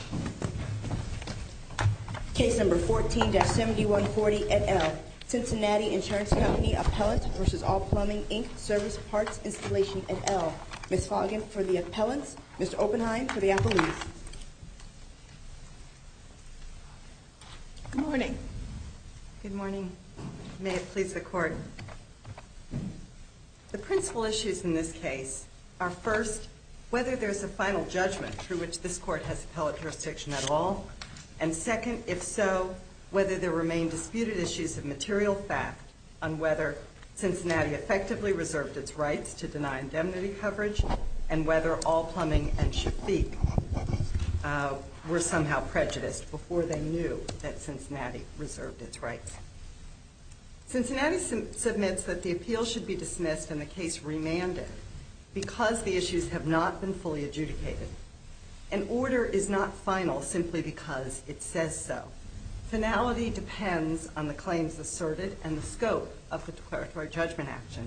Service Parts Installation, et al. Ms. Foggen for the appellants, Mr. Oppenheim for the appellees. Good morning. Good morning. May it please the court. The principal issues in this case are first, whether there's a final judgment through which this court has appellate jurisdiction at all, and second, if so, whether there remain disputed issues of material fact on whether Cincinnati effectively reserved its rights to deny indemnity coverage and whether All Plumbing and Shafik were somehow prejudiced before they knew that Cincinnati reserved its rights. Cincinnati submits that the appeal should be dismissed and the case remanded because the issues have not been fully adjudicated. An order is not final simply because it says so. Finality depends on the claims asserted and the scope of the declaratory judgment action.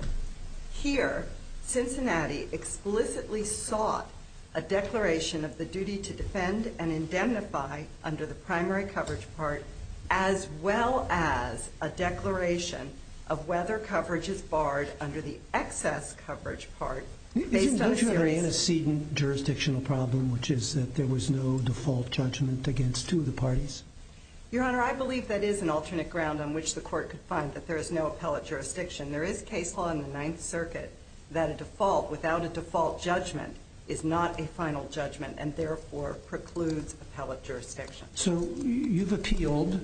Here, Cincinnati explicitly sought a declaration of the duty to defend and indemnify under the primary coverage part as well as a declaration of whether coverage is barred under the excess coverage part based on a series of evidence. Isn't there an antecedent jurisdictional problem, which is that there was no default judgment against two of the parties? Your Honor, I believe that is an alternate ground on which the court could find that there is no appellate jurisdiction. There is case law in the Ninth Circuit that a default without a default judgment is not a final judgment and therefore precludes appellate jurisdiction. So you've appealed,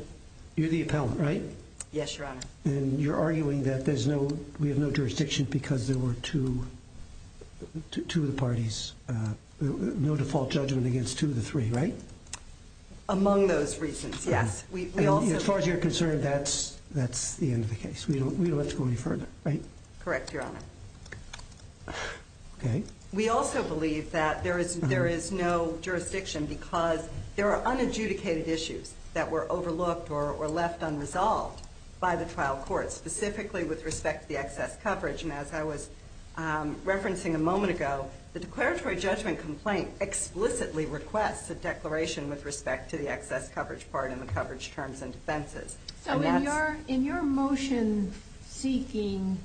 you're the appellant, right? Yes, Your Honor. And you're arguing that there's no, we have no jurisdiction because there were two, two of the parties, no default judgment against two of the three, right? Among those reasons, yes. As far as you're concerned, that's, that's the end of the case. We don't, we don't have to go any further, right? Correct, Your Honor. Okay. We also believe that there is, there is no jurisdiction because there are unadjudicated issues that were overlooked or left unresolved by the trial court, specifically with respect to the excess coverage. And as I was referencing a moment ago, the declaratory judgment complaint explicitly requests a declaration with respect to the excess coverage part and the coverage terms and defenses. So in your motion seeking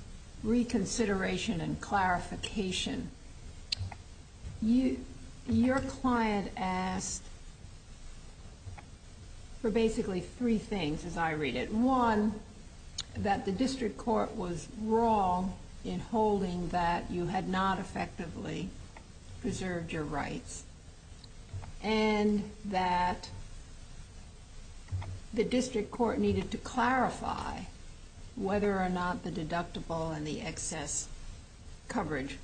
reconsideration and clarification, you, your client asked for basically three things as I read it. One, that the district court was wrong in holding that you had not effectively preserved your rights. And that the district court needed to clarify whether or not the deductible and the excess coverage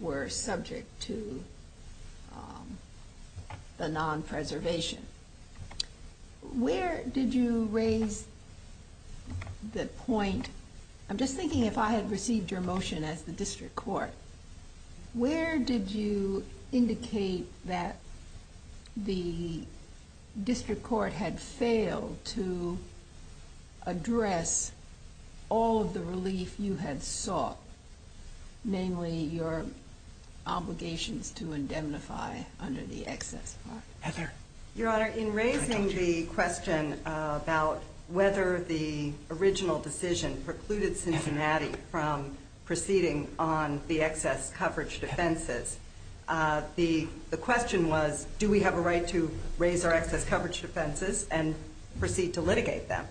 were subject to the non-preservation. Where did you raise the point, I'm just thinking if I had received your motion as the district court, where did you indicate that the district court had failed to address all of the related issues if you had sought mainly your obligations to indemnify under the excess part? Heather? Your Honor, in raising the question about whether the original decision precluded Cincinnati from proceeding on the excess coverage defenses, the question was, do we have a right to raise our excess coverage defenses and proceed to litigate them?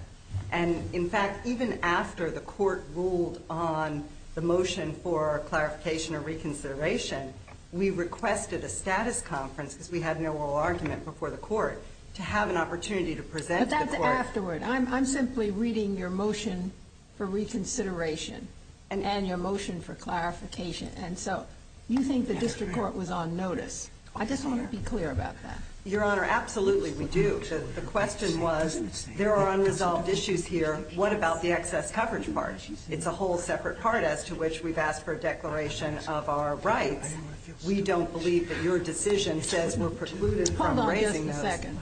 And in fact, even after the court ruled on the motion for clarification or reconsideration, we requested a status conference because we had no oral argument before the court to have an opportunity to present to the court. But that's afterward. I'm simply reading your motion for reconsideration and your motion for clarification. And so you think the district court was on notice. I just want to be clear about that. Your Honor, absolutely we do. The question was, there are unresolved issues here. What about the excess coverage part? It's a whole separate part as to which we've asked for a declaration of our rights. We don't believe that your decision says we're precluded from raising those. Hold on just a second.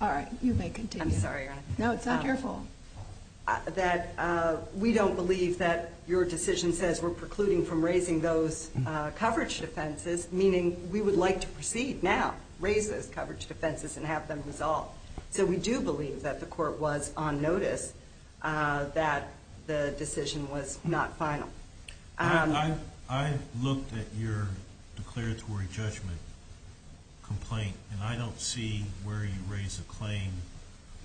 All right, you may continue. I'm sorry, Your Honor. No, it's not your fault. That we don't believe that your decision says we're precluding from raising those coverage defenses, meaning we would like to proceed now, raise those coverage defenses and have them resolved. So we do believe that the court was on notice that the decision was not final. I looked at your declaratory judgment complaint, and I don't see where you raise a claim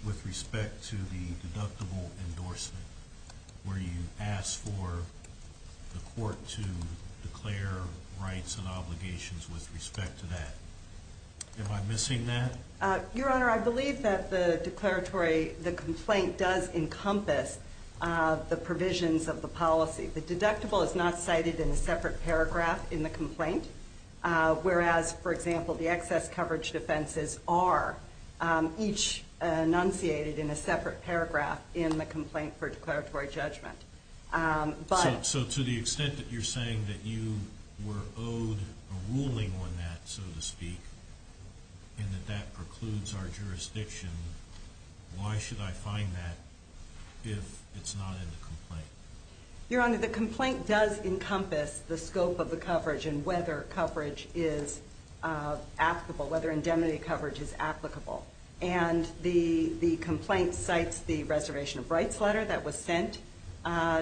with respect to the deductible endorsement, where you ask for the court to declare rights and obligations with respect to that. Am I missing that? Your Honor, I believe that the declaratory, the complaint does encompass the provisions of the policy. The deductible is not cited in a separate paragraph in the complaint, whereas, for example, the excess coverage defenses are each enunciated in a separate paragraph in the complaint for declaratory judgment. So to the extent that you're saying that you were owed a ruling on that, so to speak, and that that precludes our jurisdiction, why should I find that if it's not in the complaint? Your Honor, the complaint does encompass the scope of the coverage and whether coverage is applicable, whether indemnity coverage is applicable. And the complaint cites the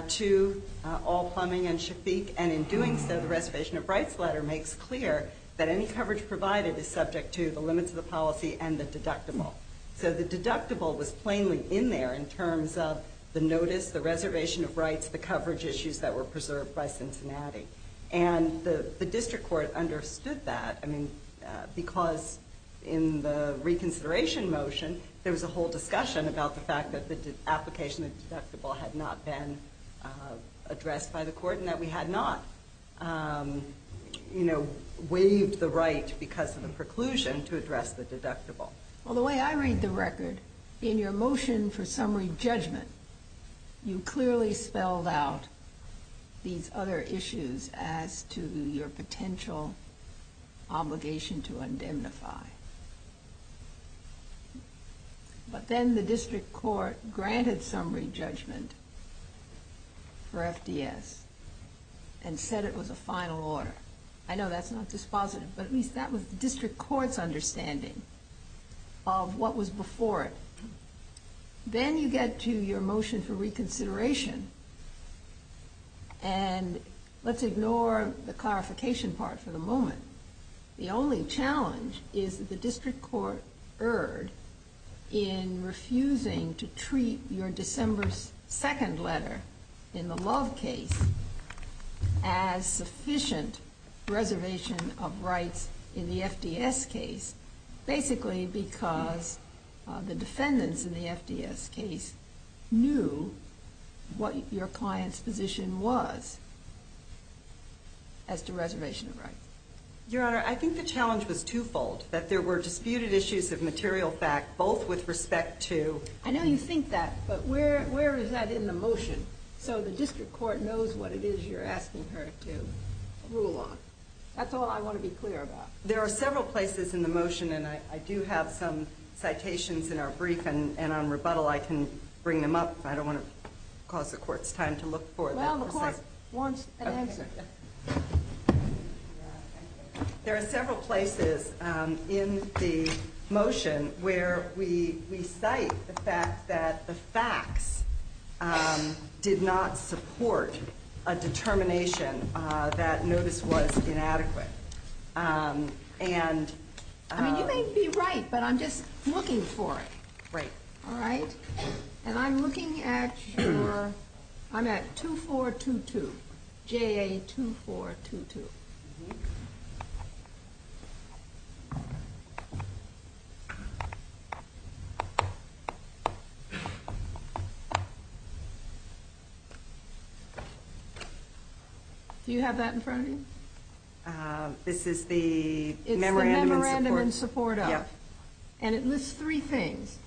two, all plumbing and shafik, and in doing so, the reservation of rights letter makes clear that any coverage provided is subject to the limits of the policy and the deductible. So the deductible was plainly in there in terms of the notice, the reservation of rights, the coverage issues that were preserved by Cincinnati. And the district court understood that, I mean, because in the reconsideration motion, there was a whole discussion about the fact that the application of the deductible had not been addressed by the court and that we had not, you know, waived the right because of the preclusion to address the deductible. Well, the way I read the record, in your motion for summary judgment, you clearly spelled out these other issues as to your potential obligation to indemnify. But then the district court granted summary judgment for FDS and said it was a final order. I know that's not dispositive, but at least that was the district court's understanding of what was before it. Then you get to your motion for reconsideration, and let's ignore the clarification part for a moment, in refusing to treat your December 2nd letter in the Love case as sufficient reservation of rights in the FDS case, basically because the defendants in the FDS case knew what your client's position was as to reservation of rights. Your Honor, I think the challenge was twofold, that there were disputed issues of material fact, both with respect to... I know you think that, but where is that in the motion? So the district court knows what it is you're asking her to rule on. That's all I want to be clear about. There are several places in the motion, and I do have some citations in our brief, and on rebuttal I can bring them up. I don't want to cause the court's time to look for them. Well, the court wants an answer. There are several places in the motion where we cite the fact that the facts did not support a determination that notice was inadequate. I mean, you may be right, but I'm just looking for it. All right, and I'm looking at your... I'm at 2422, JA2422. Do you have that in front of you? This is the memorandum in support. And it lists three things.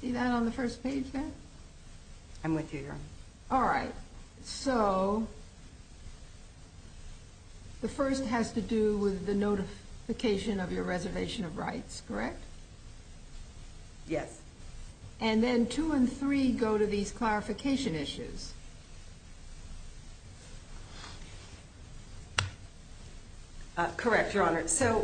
See that on the first page there? I'm with you, Your Honor. All right, so the first has to do with the notification of your reservation of rights, correct? Yes. And then two and three go to these clarification issues. Correct, Your Honor. So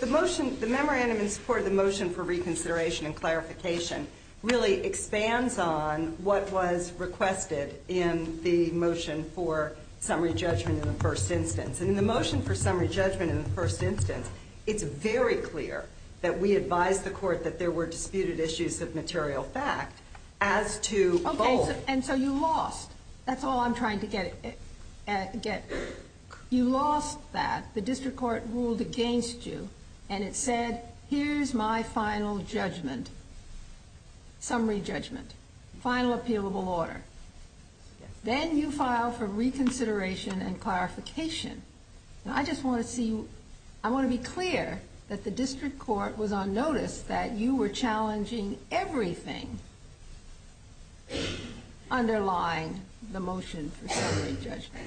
the motion, the memorandum in support of the motion for reconsideration and clarification really expands on what was requested in the motion for summary judgment in the first instance. And in the motion for summary judgment in the first instance, it's very clear that we advised the court that there were disputed issues of material fact as to both... Okay, and so you lost. That's all I'm trying to get at. You lost that. The district court ruled against you, and it said, here's my final judgment, summary judgment, final appealable order. Then you filed for reconsideration and clarification. Now, I just want to see... I want to be clear that the district court was on notice that you were challenging everything underlying the motion for summary judgment.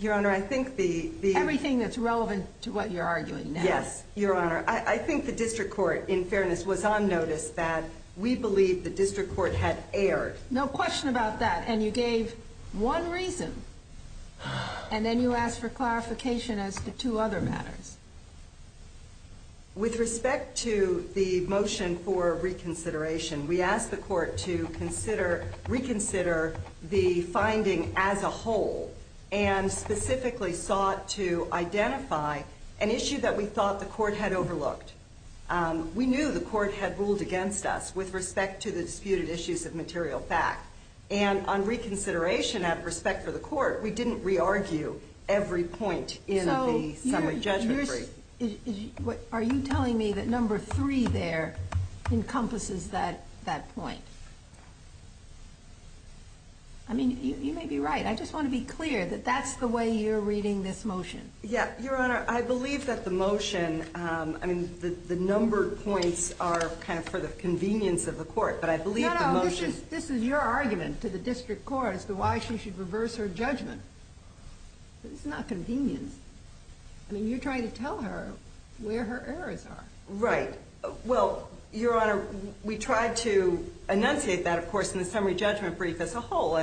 Your Honor, I think the... Everything that's relevant to what you're arguing now. Yes, Your Honor. I think the district court, in fairness, was on notice that we believed the district court had erred. No question about that. And you gave one reason, and then you asked for clarification as to two other matters. With respect to the motion for reconsideration, we asked the court to reconsider the finding as a whole, and specifically sought to identify an issue that we thought the court had overlooked. We knew the court had ruled against us with respect to the disputed issues of material fact. And on reconsideration, out of respect for the court, we didn't re-argue every point in the summary judgment brief. Are you telling me that number three there encompasses that point? I mean, you may be right. I just want to be clear that that's the way you're reading this motion. Yeah. Your Honor, I believe that the motion... I mean, the numbered points are kind of for the convenience of the court, but I believe the motion... This is your argument to the district court as to why she should reverse her judgment. It's not convenience. I mean, you're trying to tell her where her errors are. Right. Well, Your Honor, we tried to enunciate that, of course, in the summary judgment brief as a whole,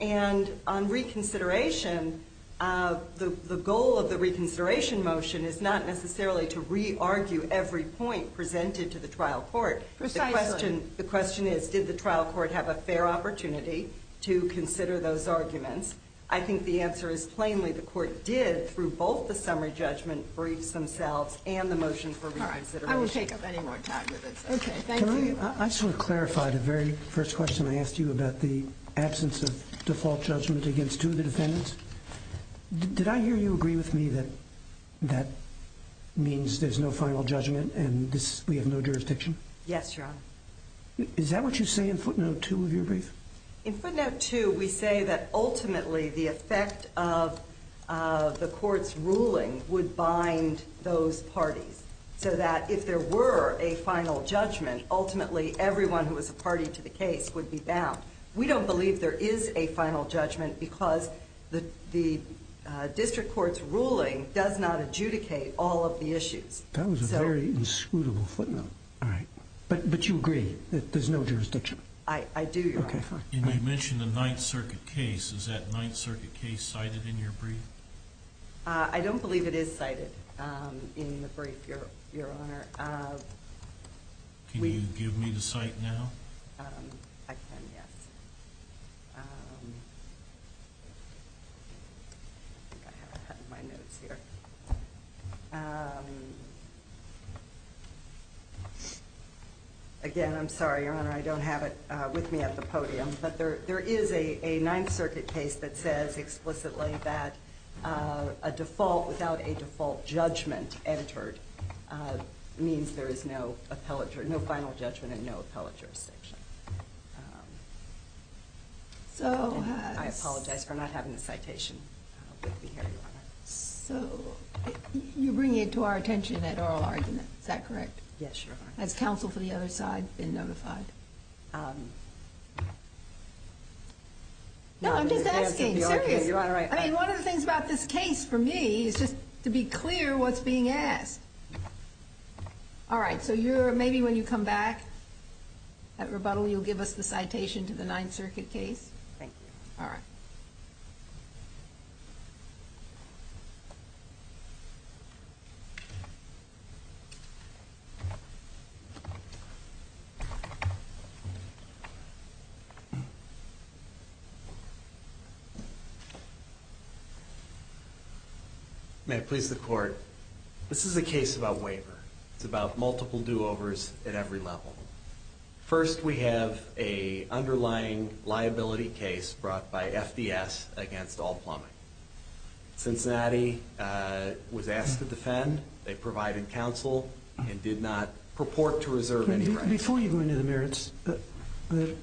and on reconsideration, the goal of the reconsideration motion is not necessarily to re-argue every point presented to the trial court. Precisely. The question is, did the trial court have a fair opportunity to consider those arguments? I think the answer is plainly the court did, through both the summary judgment briefs themselves and the motion for reconsideration. All right. I won't take up any more time with this. Okay. Thank you. Can I sort of clarify the very first question I asked you about the absence of default judgment against two of the defendants? Did I hear you agree with me that that means there's no final judgment and we have no jurisdiction? Yes, Your Honor. Is that what you say in footnote 2 of your brief? In footnote 2, we say that ultimately the effect of the court's ruling would bind those parties so that if there were a final judgment, ultimately everyone who was a party to the case would be bound. We don't believe there is a final judgment because the district court's ruling does not adjudicate all of the issues. That was a very inscrutable footnote. All right. But you agree that there's no jurisdiction? I do, Your Honor. Okay. Fine. And you mentioned the Ninth Circuit case. Is that Ninth Circuit case cited in your brief? I don't believe it is cited in the brief, Your Honor. Can you give me the cite now? I can, yes. I think I have a head in my nose here. Again, I'm sorry, Your Honor. I don't have it with me at the podium. But there is a Ninth Circuit case that says explicitly that a default without a default judgment entered means there is no final judgment and no appellate jurisdiction. I apologize for not having the citation with me here, Your Honor. So you bring it to our attention at oral argument. Is that correct? Yes, Your Honor. Has counsel for the other side been notified? No, I'm just asking. Serious. I mean, one of the things about this case for me is just to be clear what's being asked. All right. So maybe when you come back at rebuttal, you'll give us the citation to the Ninth Circuit case? Thank you, Your Honor. All right. Thank you. May it please the Court, this is a case about waiver. It's about multiple do-overs at every level. First, we have an underlying liability case brought by FDS against all plumbing. The body was asked to defend. They provided counsel and did not purport to reserve any rights. Before you go into the merits, the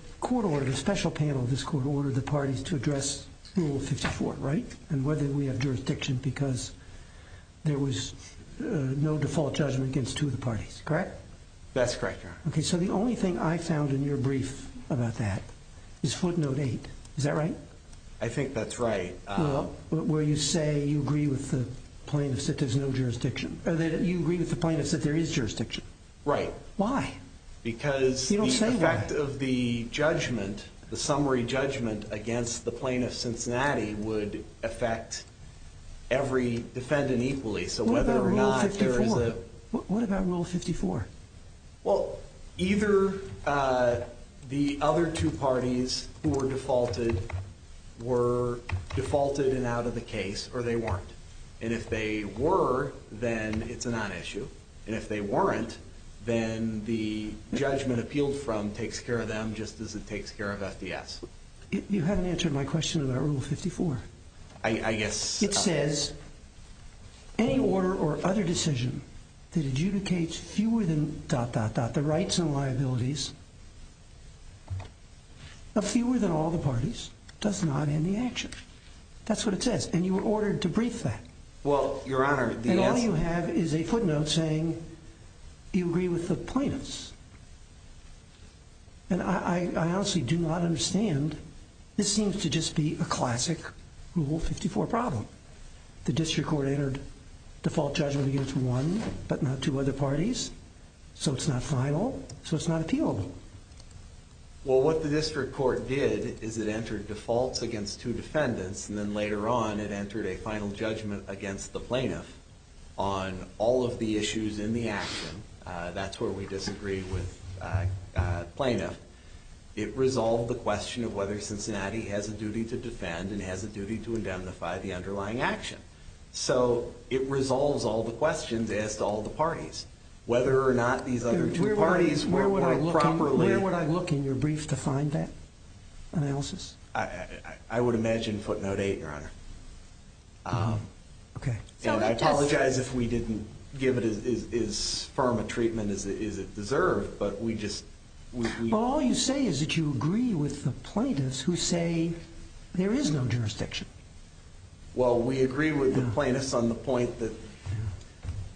special panel of this Court ordered the parties to address Rule 54, right? And whether we have jurisdiction because there was no default judgment against two of the parties, correct? That's correct, Your Honor. Okay. So the only thing I found in your brief about that is Footnote 8. Is that right? I think that's right. Where you say you agree with the plaintiff that there's no jurisdiction. You agree with the plaintiff that there is jurisdiction. Right. Why? Because the effect of the judgment, the summary judgment against the plaintiff, Cincinnati, would affect every defendant equally. What about Rule 54? Well, either the other two parties who were defaulted were defaulted and out of the case or they weren't. And if they were, then it's a non-issue. And if they weren't, then the judgment appealed from takes care of them just as it takes care of FDS. You haven't answered my question about Rule 54. I guess... It says any order or other decision that adjudicates fewer than dot, dot, dot, the rights and liabilities of fewer than all the parties does not end the action. That's what it says. And you were ordered to brief that. Well, Your Honor... And all you have is a footnote saying you agree with the plaintiffs. And I honestly do not understand. This seems to just be a classic Rule 54 problem. The district court entered default judgment against one but not two other parties. So it's not final. So it's not appealable. Well, what the district court did is it entered defaults against two defendants. And then later on, it entered a final judgment against the plaintiff on all of the issues in the action. That's where we disagree with plaintiff. It resolved the question of whether Cincinnati has a duty to defend and has a duty to indemnify the underlying action. So it resolves all the questions as to all the parties. Whether or not these other two parties were properly... Where would I look in your brief to find that analysis? I would imagine footnote eight, Your Honor. Okay. And I apologize if we didn't give it as firm a treatment as it deserved, but we just... All you say is that you agree with the plaintiffs who say there is no jurisdiction. Well, we agree with the plaintiffs on the point that...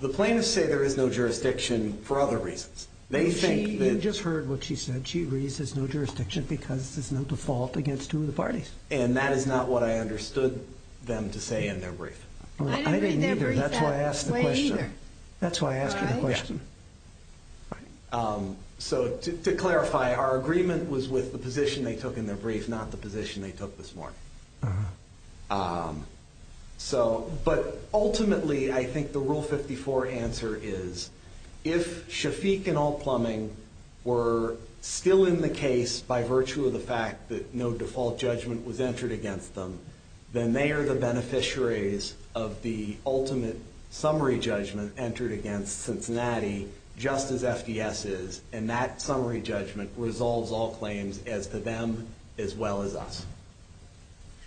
The plaintiffs say there is no jurisdiction for other reasons. They think that... You just heard what she said. She agrees there's no jurisdiction because there's no default against two of the parties. And that is not what I understood them to say in their brief. I didn't read their brief that way either. That's why I asked you the question. So to clarify, our agreement was with the position they took in their brief, not the position they took this morning. But ultimately, I think the Rule 54 answer is if Shafik and Alt Plumbing were still in the case by virtue of the fact that no default judgment was entered against them, then they are the beneficiaries of the ultimate summary judgment entered against Cincinnati just as FDS is. And that summary judgment resolves all claims as to them as well as us.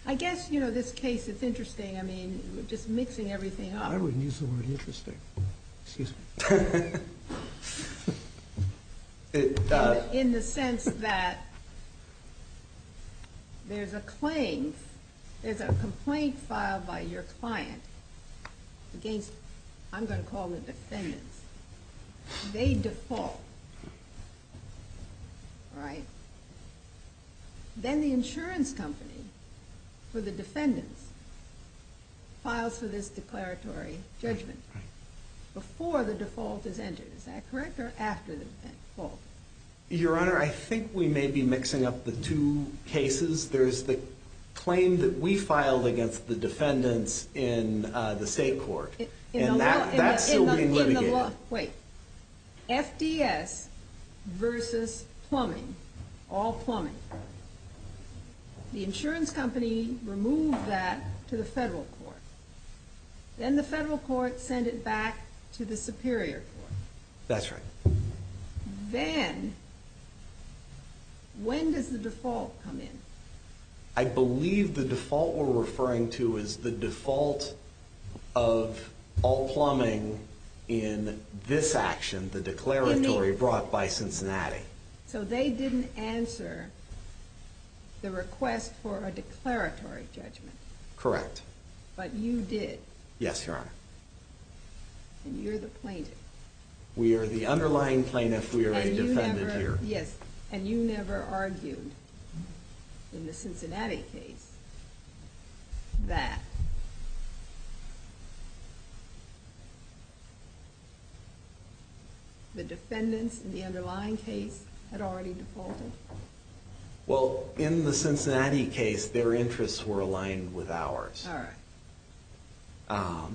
I guess, you know, this case is interesting. I mean, just mixing everything up. I wouldn't use the word interesting. Excuse me. In the sense that there's a claim, there's a complaint filed by your client against, I'm going to call them defendants. They default, right? Then the insurance company for the defendants files for this declaratory judgment before the default is entered. Is that correct or after the default? Your Honor, I think we may be mixing up the two cases. There's the claim that we filed against the defendants in the state court, and that's still being litigated. Wait. FDS versus plumbing, Alt Plumbing. The insurance company removed that to the federal court. Then the federal court sent it back to the superior court. That's right. Then when does the default come in? I believe the default we're referring to is the default of Alt Plumbing in this action, the declaratory brought by Cincinnati. So they didn't answer the request for a declaratory judgment. Correct. But you did. Yes, Your Honor. And you're the plaintiff. We are the underlying plaintiff. We are a defendant here. Yes, and you never argued in the Cincinnati case that the defendants in the underlying case had already defaulted? Well, in the Cincinnati case, their interests were aligned with ours. All right.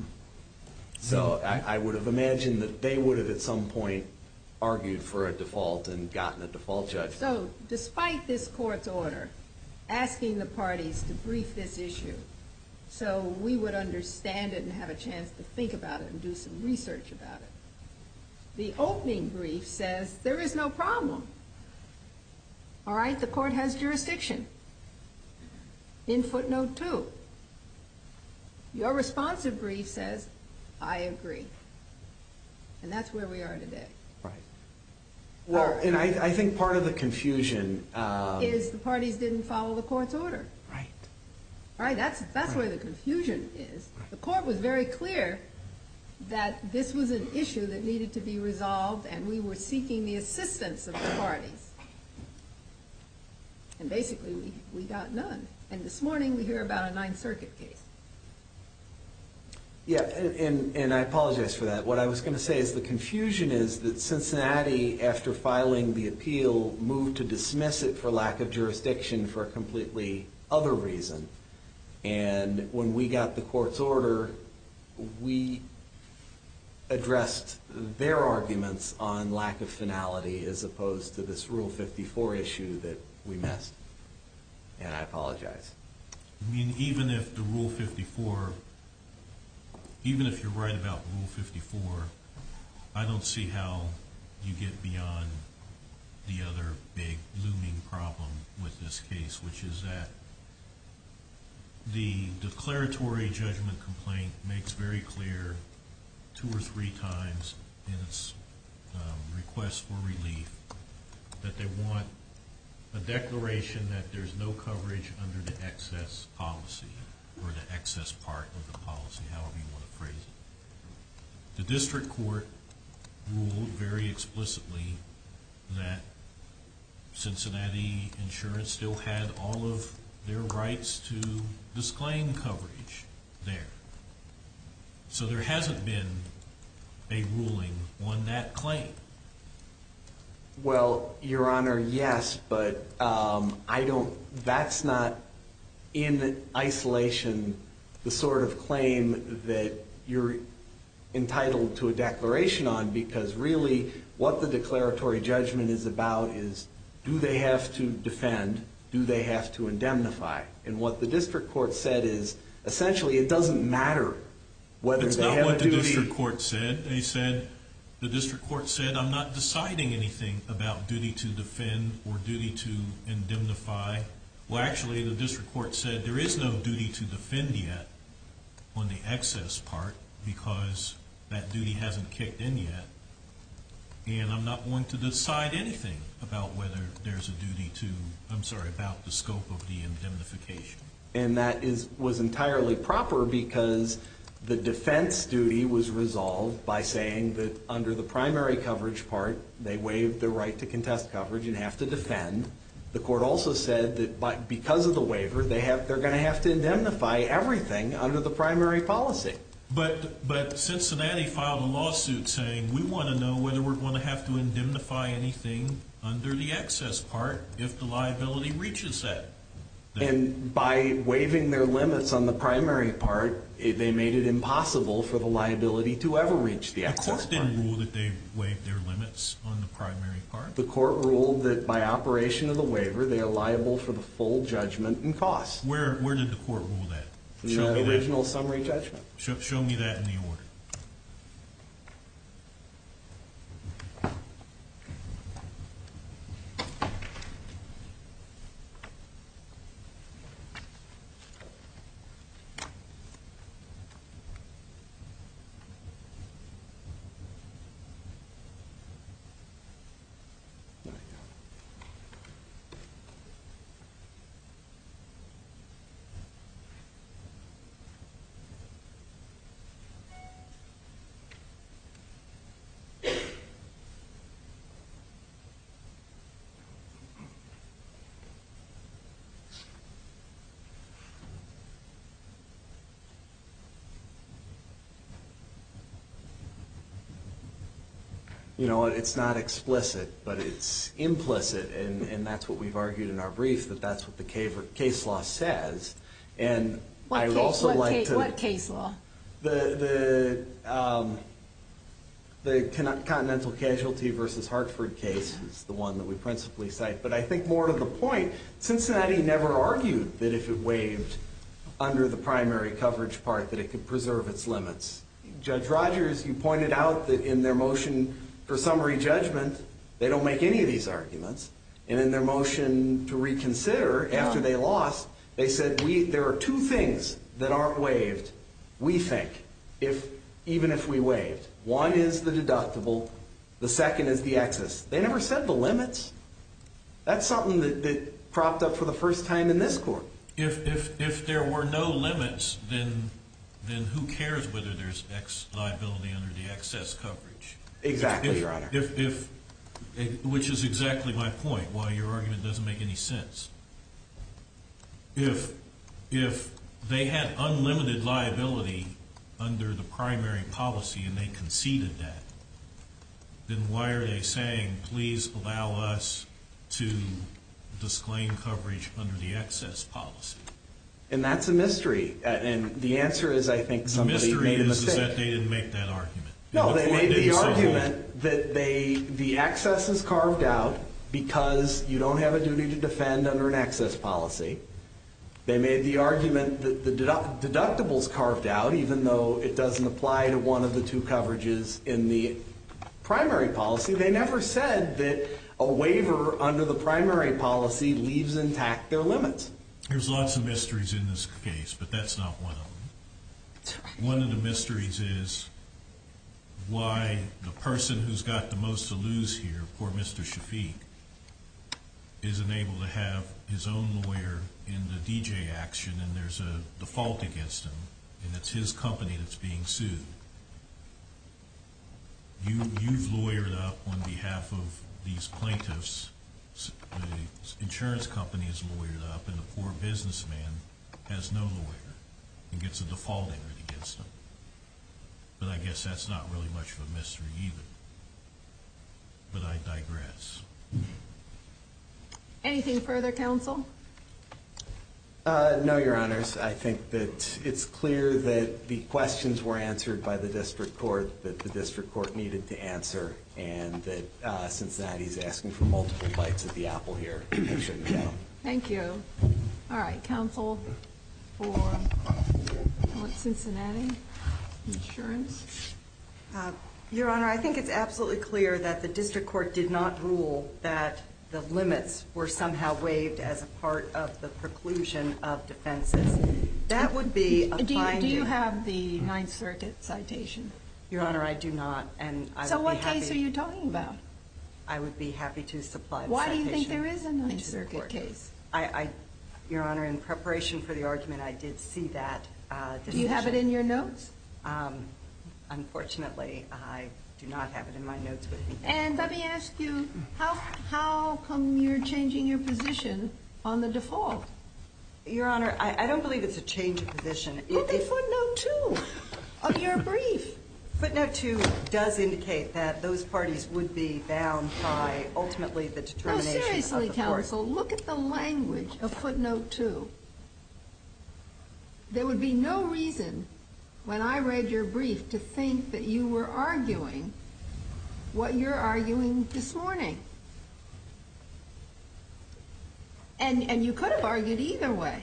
So I would have imagined that they would have at some point argued for a default and gotten a default judgment. So despite this court's order asking the parties to brief this issue so we would understand it and have a chance to think about it and do some research about it, the opening brief says there is no problem. All right? The court has jurisdiction in footnote two. Your responsive brief says, I agree. And that's where we are today. Right. Well, and I think part of the confusion is the parties didn't follow the court's order. Right. All right, that's where the confusion is. The court was very clear that this was an issue that needed to be resolved, and we were seeking the assistance of the parties. And basically, we got none. And this morning, we hear about a Ninth Circuit case. Yeah, and I apologize for that. What I was going to say is the confusion is that Cincinnati, after filing the appeal, moved to dismiss it for lack of jurisdiction for a completely other reason. And when we got the court's order, we addressed their arguments on lack of finality as opposed to this Rule 54 issue that we missed. I mean, even if the Rule 54, even if you're right about Rule 54, I don't see how you get beyond the other big looming problem with this case, which is that the declaratory judgment complaint makes very clear two or three times in its request for relief that they want a declaration that there's no coverage under the excess policy or the excess part of the policy, however you want to phrase it. The district court ruled very explicitly that Cincinnati Insurance still had all of their rights to disclaim coverage there. So there hasn't been a ruling on that claim. Well, Your Honor, yes, but that's not in isolation the sort of claim that you're entitled to a declaration on, because really what the declaratory judgment is about is do they have to defend, do they have to indemnify? And what the district court said is essentially it doesn't matter whether they have a duty. It's not what the district court said. They said, the district court said I'm not deciding anything about duty to defend or duty to indemnify. Well, actually, the district court said there is no duty to defend yet on the excess part because that duty hasn't kicked in yet, and I'm not going to decide anything about whether there's a duty to, I'm sorry, about the scope of the indemnification. And that was entirely proper because the defense duty was resolved by saying that under the primary coverage part, they waived their right to contest coverage and have to defend. The court also said that because of the waiver, they're going to have to indemnify everything under the primary policy. But Cincinnati filed a lawsuit saying, we want to know whether we're going to have to indemnify anything under the excess part if the liability reaches that. And by waiving their limits on the primary part, they made it impossible for the liability to ever reach the excess part. The court didn't rule that they waived their limits on the primary part. The court ruled that by operation of the waiver, they are liable for the full judgment and costs. Where did the court rule that? The original summary judgment. Show me that in the order. You know, it's not explicit, but it's implicit. And that's what we've argued in our brief, that that's what the case law says. What case law? The Continental Casualty versus Hartford case is the one that we principally cite. But I think more to the point, Cincinnati never argued that if it waived under the primary coverage part, that it could preserve its limits. Judge Rogers, you pointed out that in their motion for summary judgment, they don't make any of these arguments. And in their motion to reconsider, after they lost, they said there are two things that aren't waived, we think, even if we waived. One is the deductible. The second is the excess. They never said the limits. That's something that propped up for the first time in this court. If there were no limits, then who cares whether there's liability under the excess coverage? Exactly, Your Honor. Which is exactly my point, why your argument doesn't make any sense. If they had unlimited liability under the primary policy and they conceded that, then why are they saying, please allow us to disclaim coverage under the excess policy? And that's a mystery. And the answer is, I think, somebody made a mistake. The mystery is that they didn't make that argument. No, they made the argument that the excess is carved out because you don't have a duty to defend under an excess policy. They made the argument that the deductible is carved out, even though it doesn't apply to one of the two coverages in the primary policy. They never said that a waiver under the primary policy leaves intact their limits. There's lots of mysteries in this case, but that's not one of them. One of the mysteries is why the person who's got the most to lose here, poor Mr. Shafik, isn't able to have his own lawyer in the DJ action and there's a default against him, and it's his company that's being sued. You've lawyered up on behalf of these plaintiffs. The insurance company has lawyered up, and the poor businessman has no lawyer and gets a default against him. But I guess that's not really much of a mystery either. But I digress. Anything further, counsel? No, Your Honors. I think that it's clear that the questions were answered by the district court, that the district court needed to answer, and that Cincinnati's asking for multiple bites at the apple here. It shouldn't count. Thank you. All right. Counsel for Cincinnati Insurance? Your Honor, I think it's absolutely clear that the district court did not rule that the limits were somehow waived as a part of the preclusion of defenses. That would be a fine deal. Do you have the Ninth Circuit citation? Your Honor, I do not. So what case are you talking about? I would be happy to supply the citation. Why do you think there is a Ninth Circuit case? Your Honor, in preparation for the argument, I did see that. Do you have it in your notes? Unfortunately, I do not have it in my notes. And let me ask you, how come you're changing your position on the default? Your Honor, I don't believe it's a change of position. Isn't it footnote two of your brief? Footnote two does indicate that those parties would be bound by ultimately the determination of the court. No, seriously, counsel. Look at the language of footnote two. There would be no reason when I read your brief to think that you were arguing what you're arguing this morning. And you could have argued either way.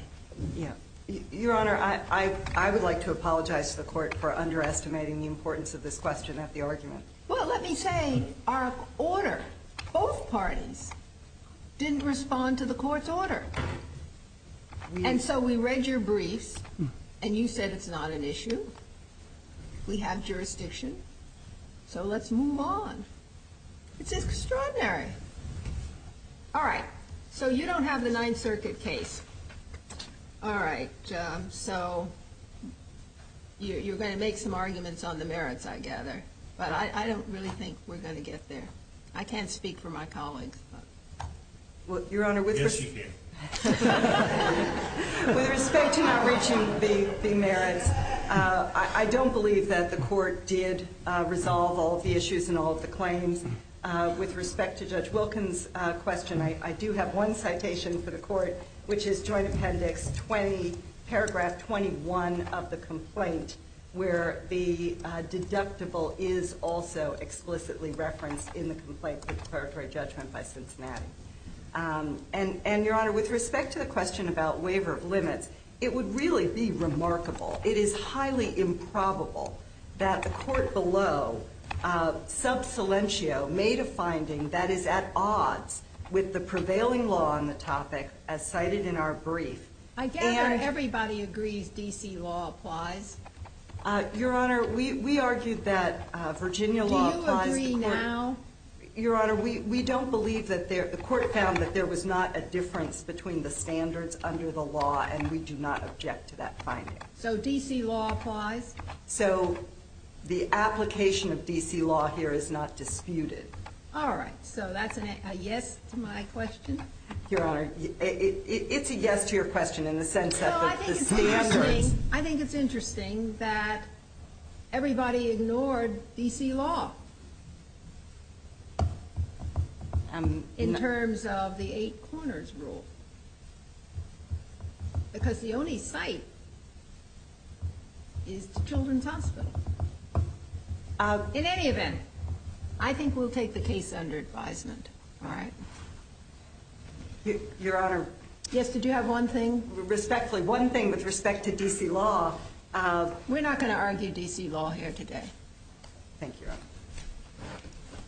Your Honor, I would like to apologize to the court for underestimating the importance of this question at the argument. Well, let me say our order, both parties didn't respond to the court's order. And so we read your briefs, and you said it's not an issue. We have jurisdiction. So let's move on. It's extraordinary. All right. So you don't have the Ninth Circuit case. All right. So you're going to make some arguments on the merits, I gather. But I don't really think we're going to get there. I can't speak for my colleagues. Your Honor, with respect to not reaching the merits, I don't believe that the court did resolve all of the issues and all of the claims. With respect to Judge Wilkins' question, I do have one citation for the court, which is Joint Appendix 20, Paragraph 21 of the complaint, where the deductible is also explicitly referenced in the complaint for declaratory judgment by Cincinnati. And, Your Honor, with respect to the question about waiver of limits, it would really be remarkable, it is highly improbable that the court below, sub silentio, made a finding that is at odds with the prevailing law on the topic as cited in our brief. I gather everybody agrees D.C. law applies. Your Honor, we argued that Virginia law applies to court. Do you agree now? Your Honor, we don't believe that there – the court found that there was not a difference between the standards under the law, and we do not object to that finding. So D.C. law applies? So the application of D.C. law here is not disputed. All right. So that's a yes to my question? Your Honor, it's a yes to your question in the sense of the standards. I think it's interesting that everybody ignored D.C. law in terms of the eight corners rule. Because the only site is the children's hospital. In any event, I think we'll take the case under advisement. All right? Your Honor. Yes, did you have one thing? Respectfully, one thing with respect to D.C. law. We're not going to argue D.C. law here today.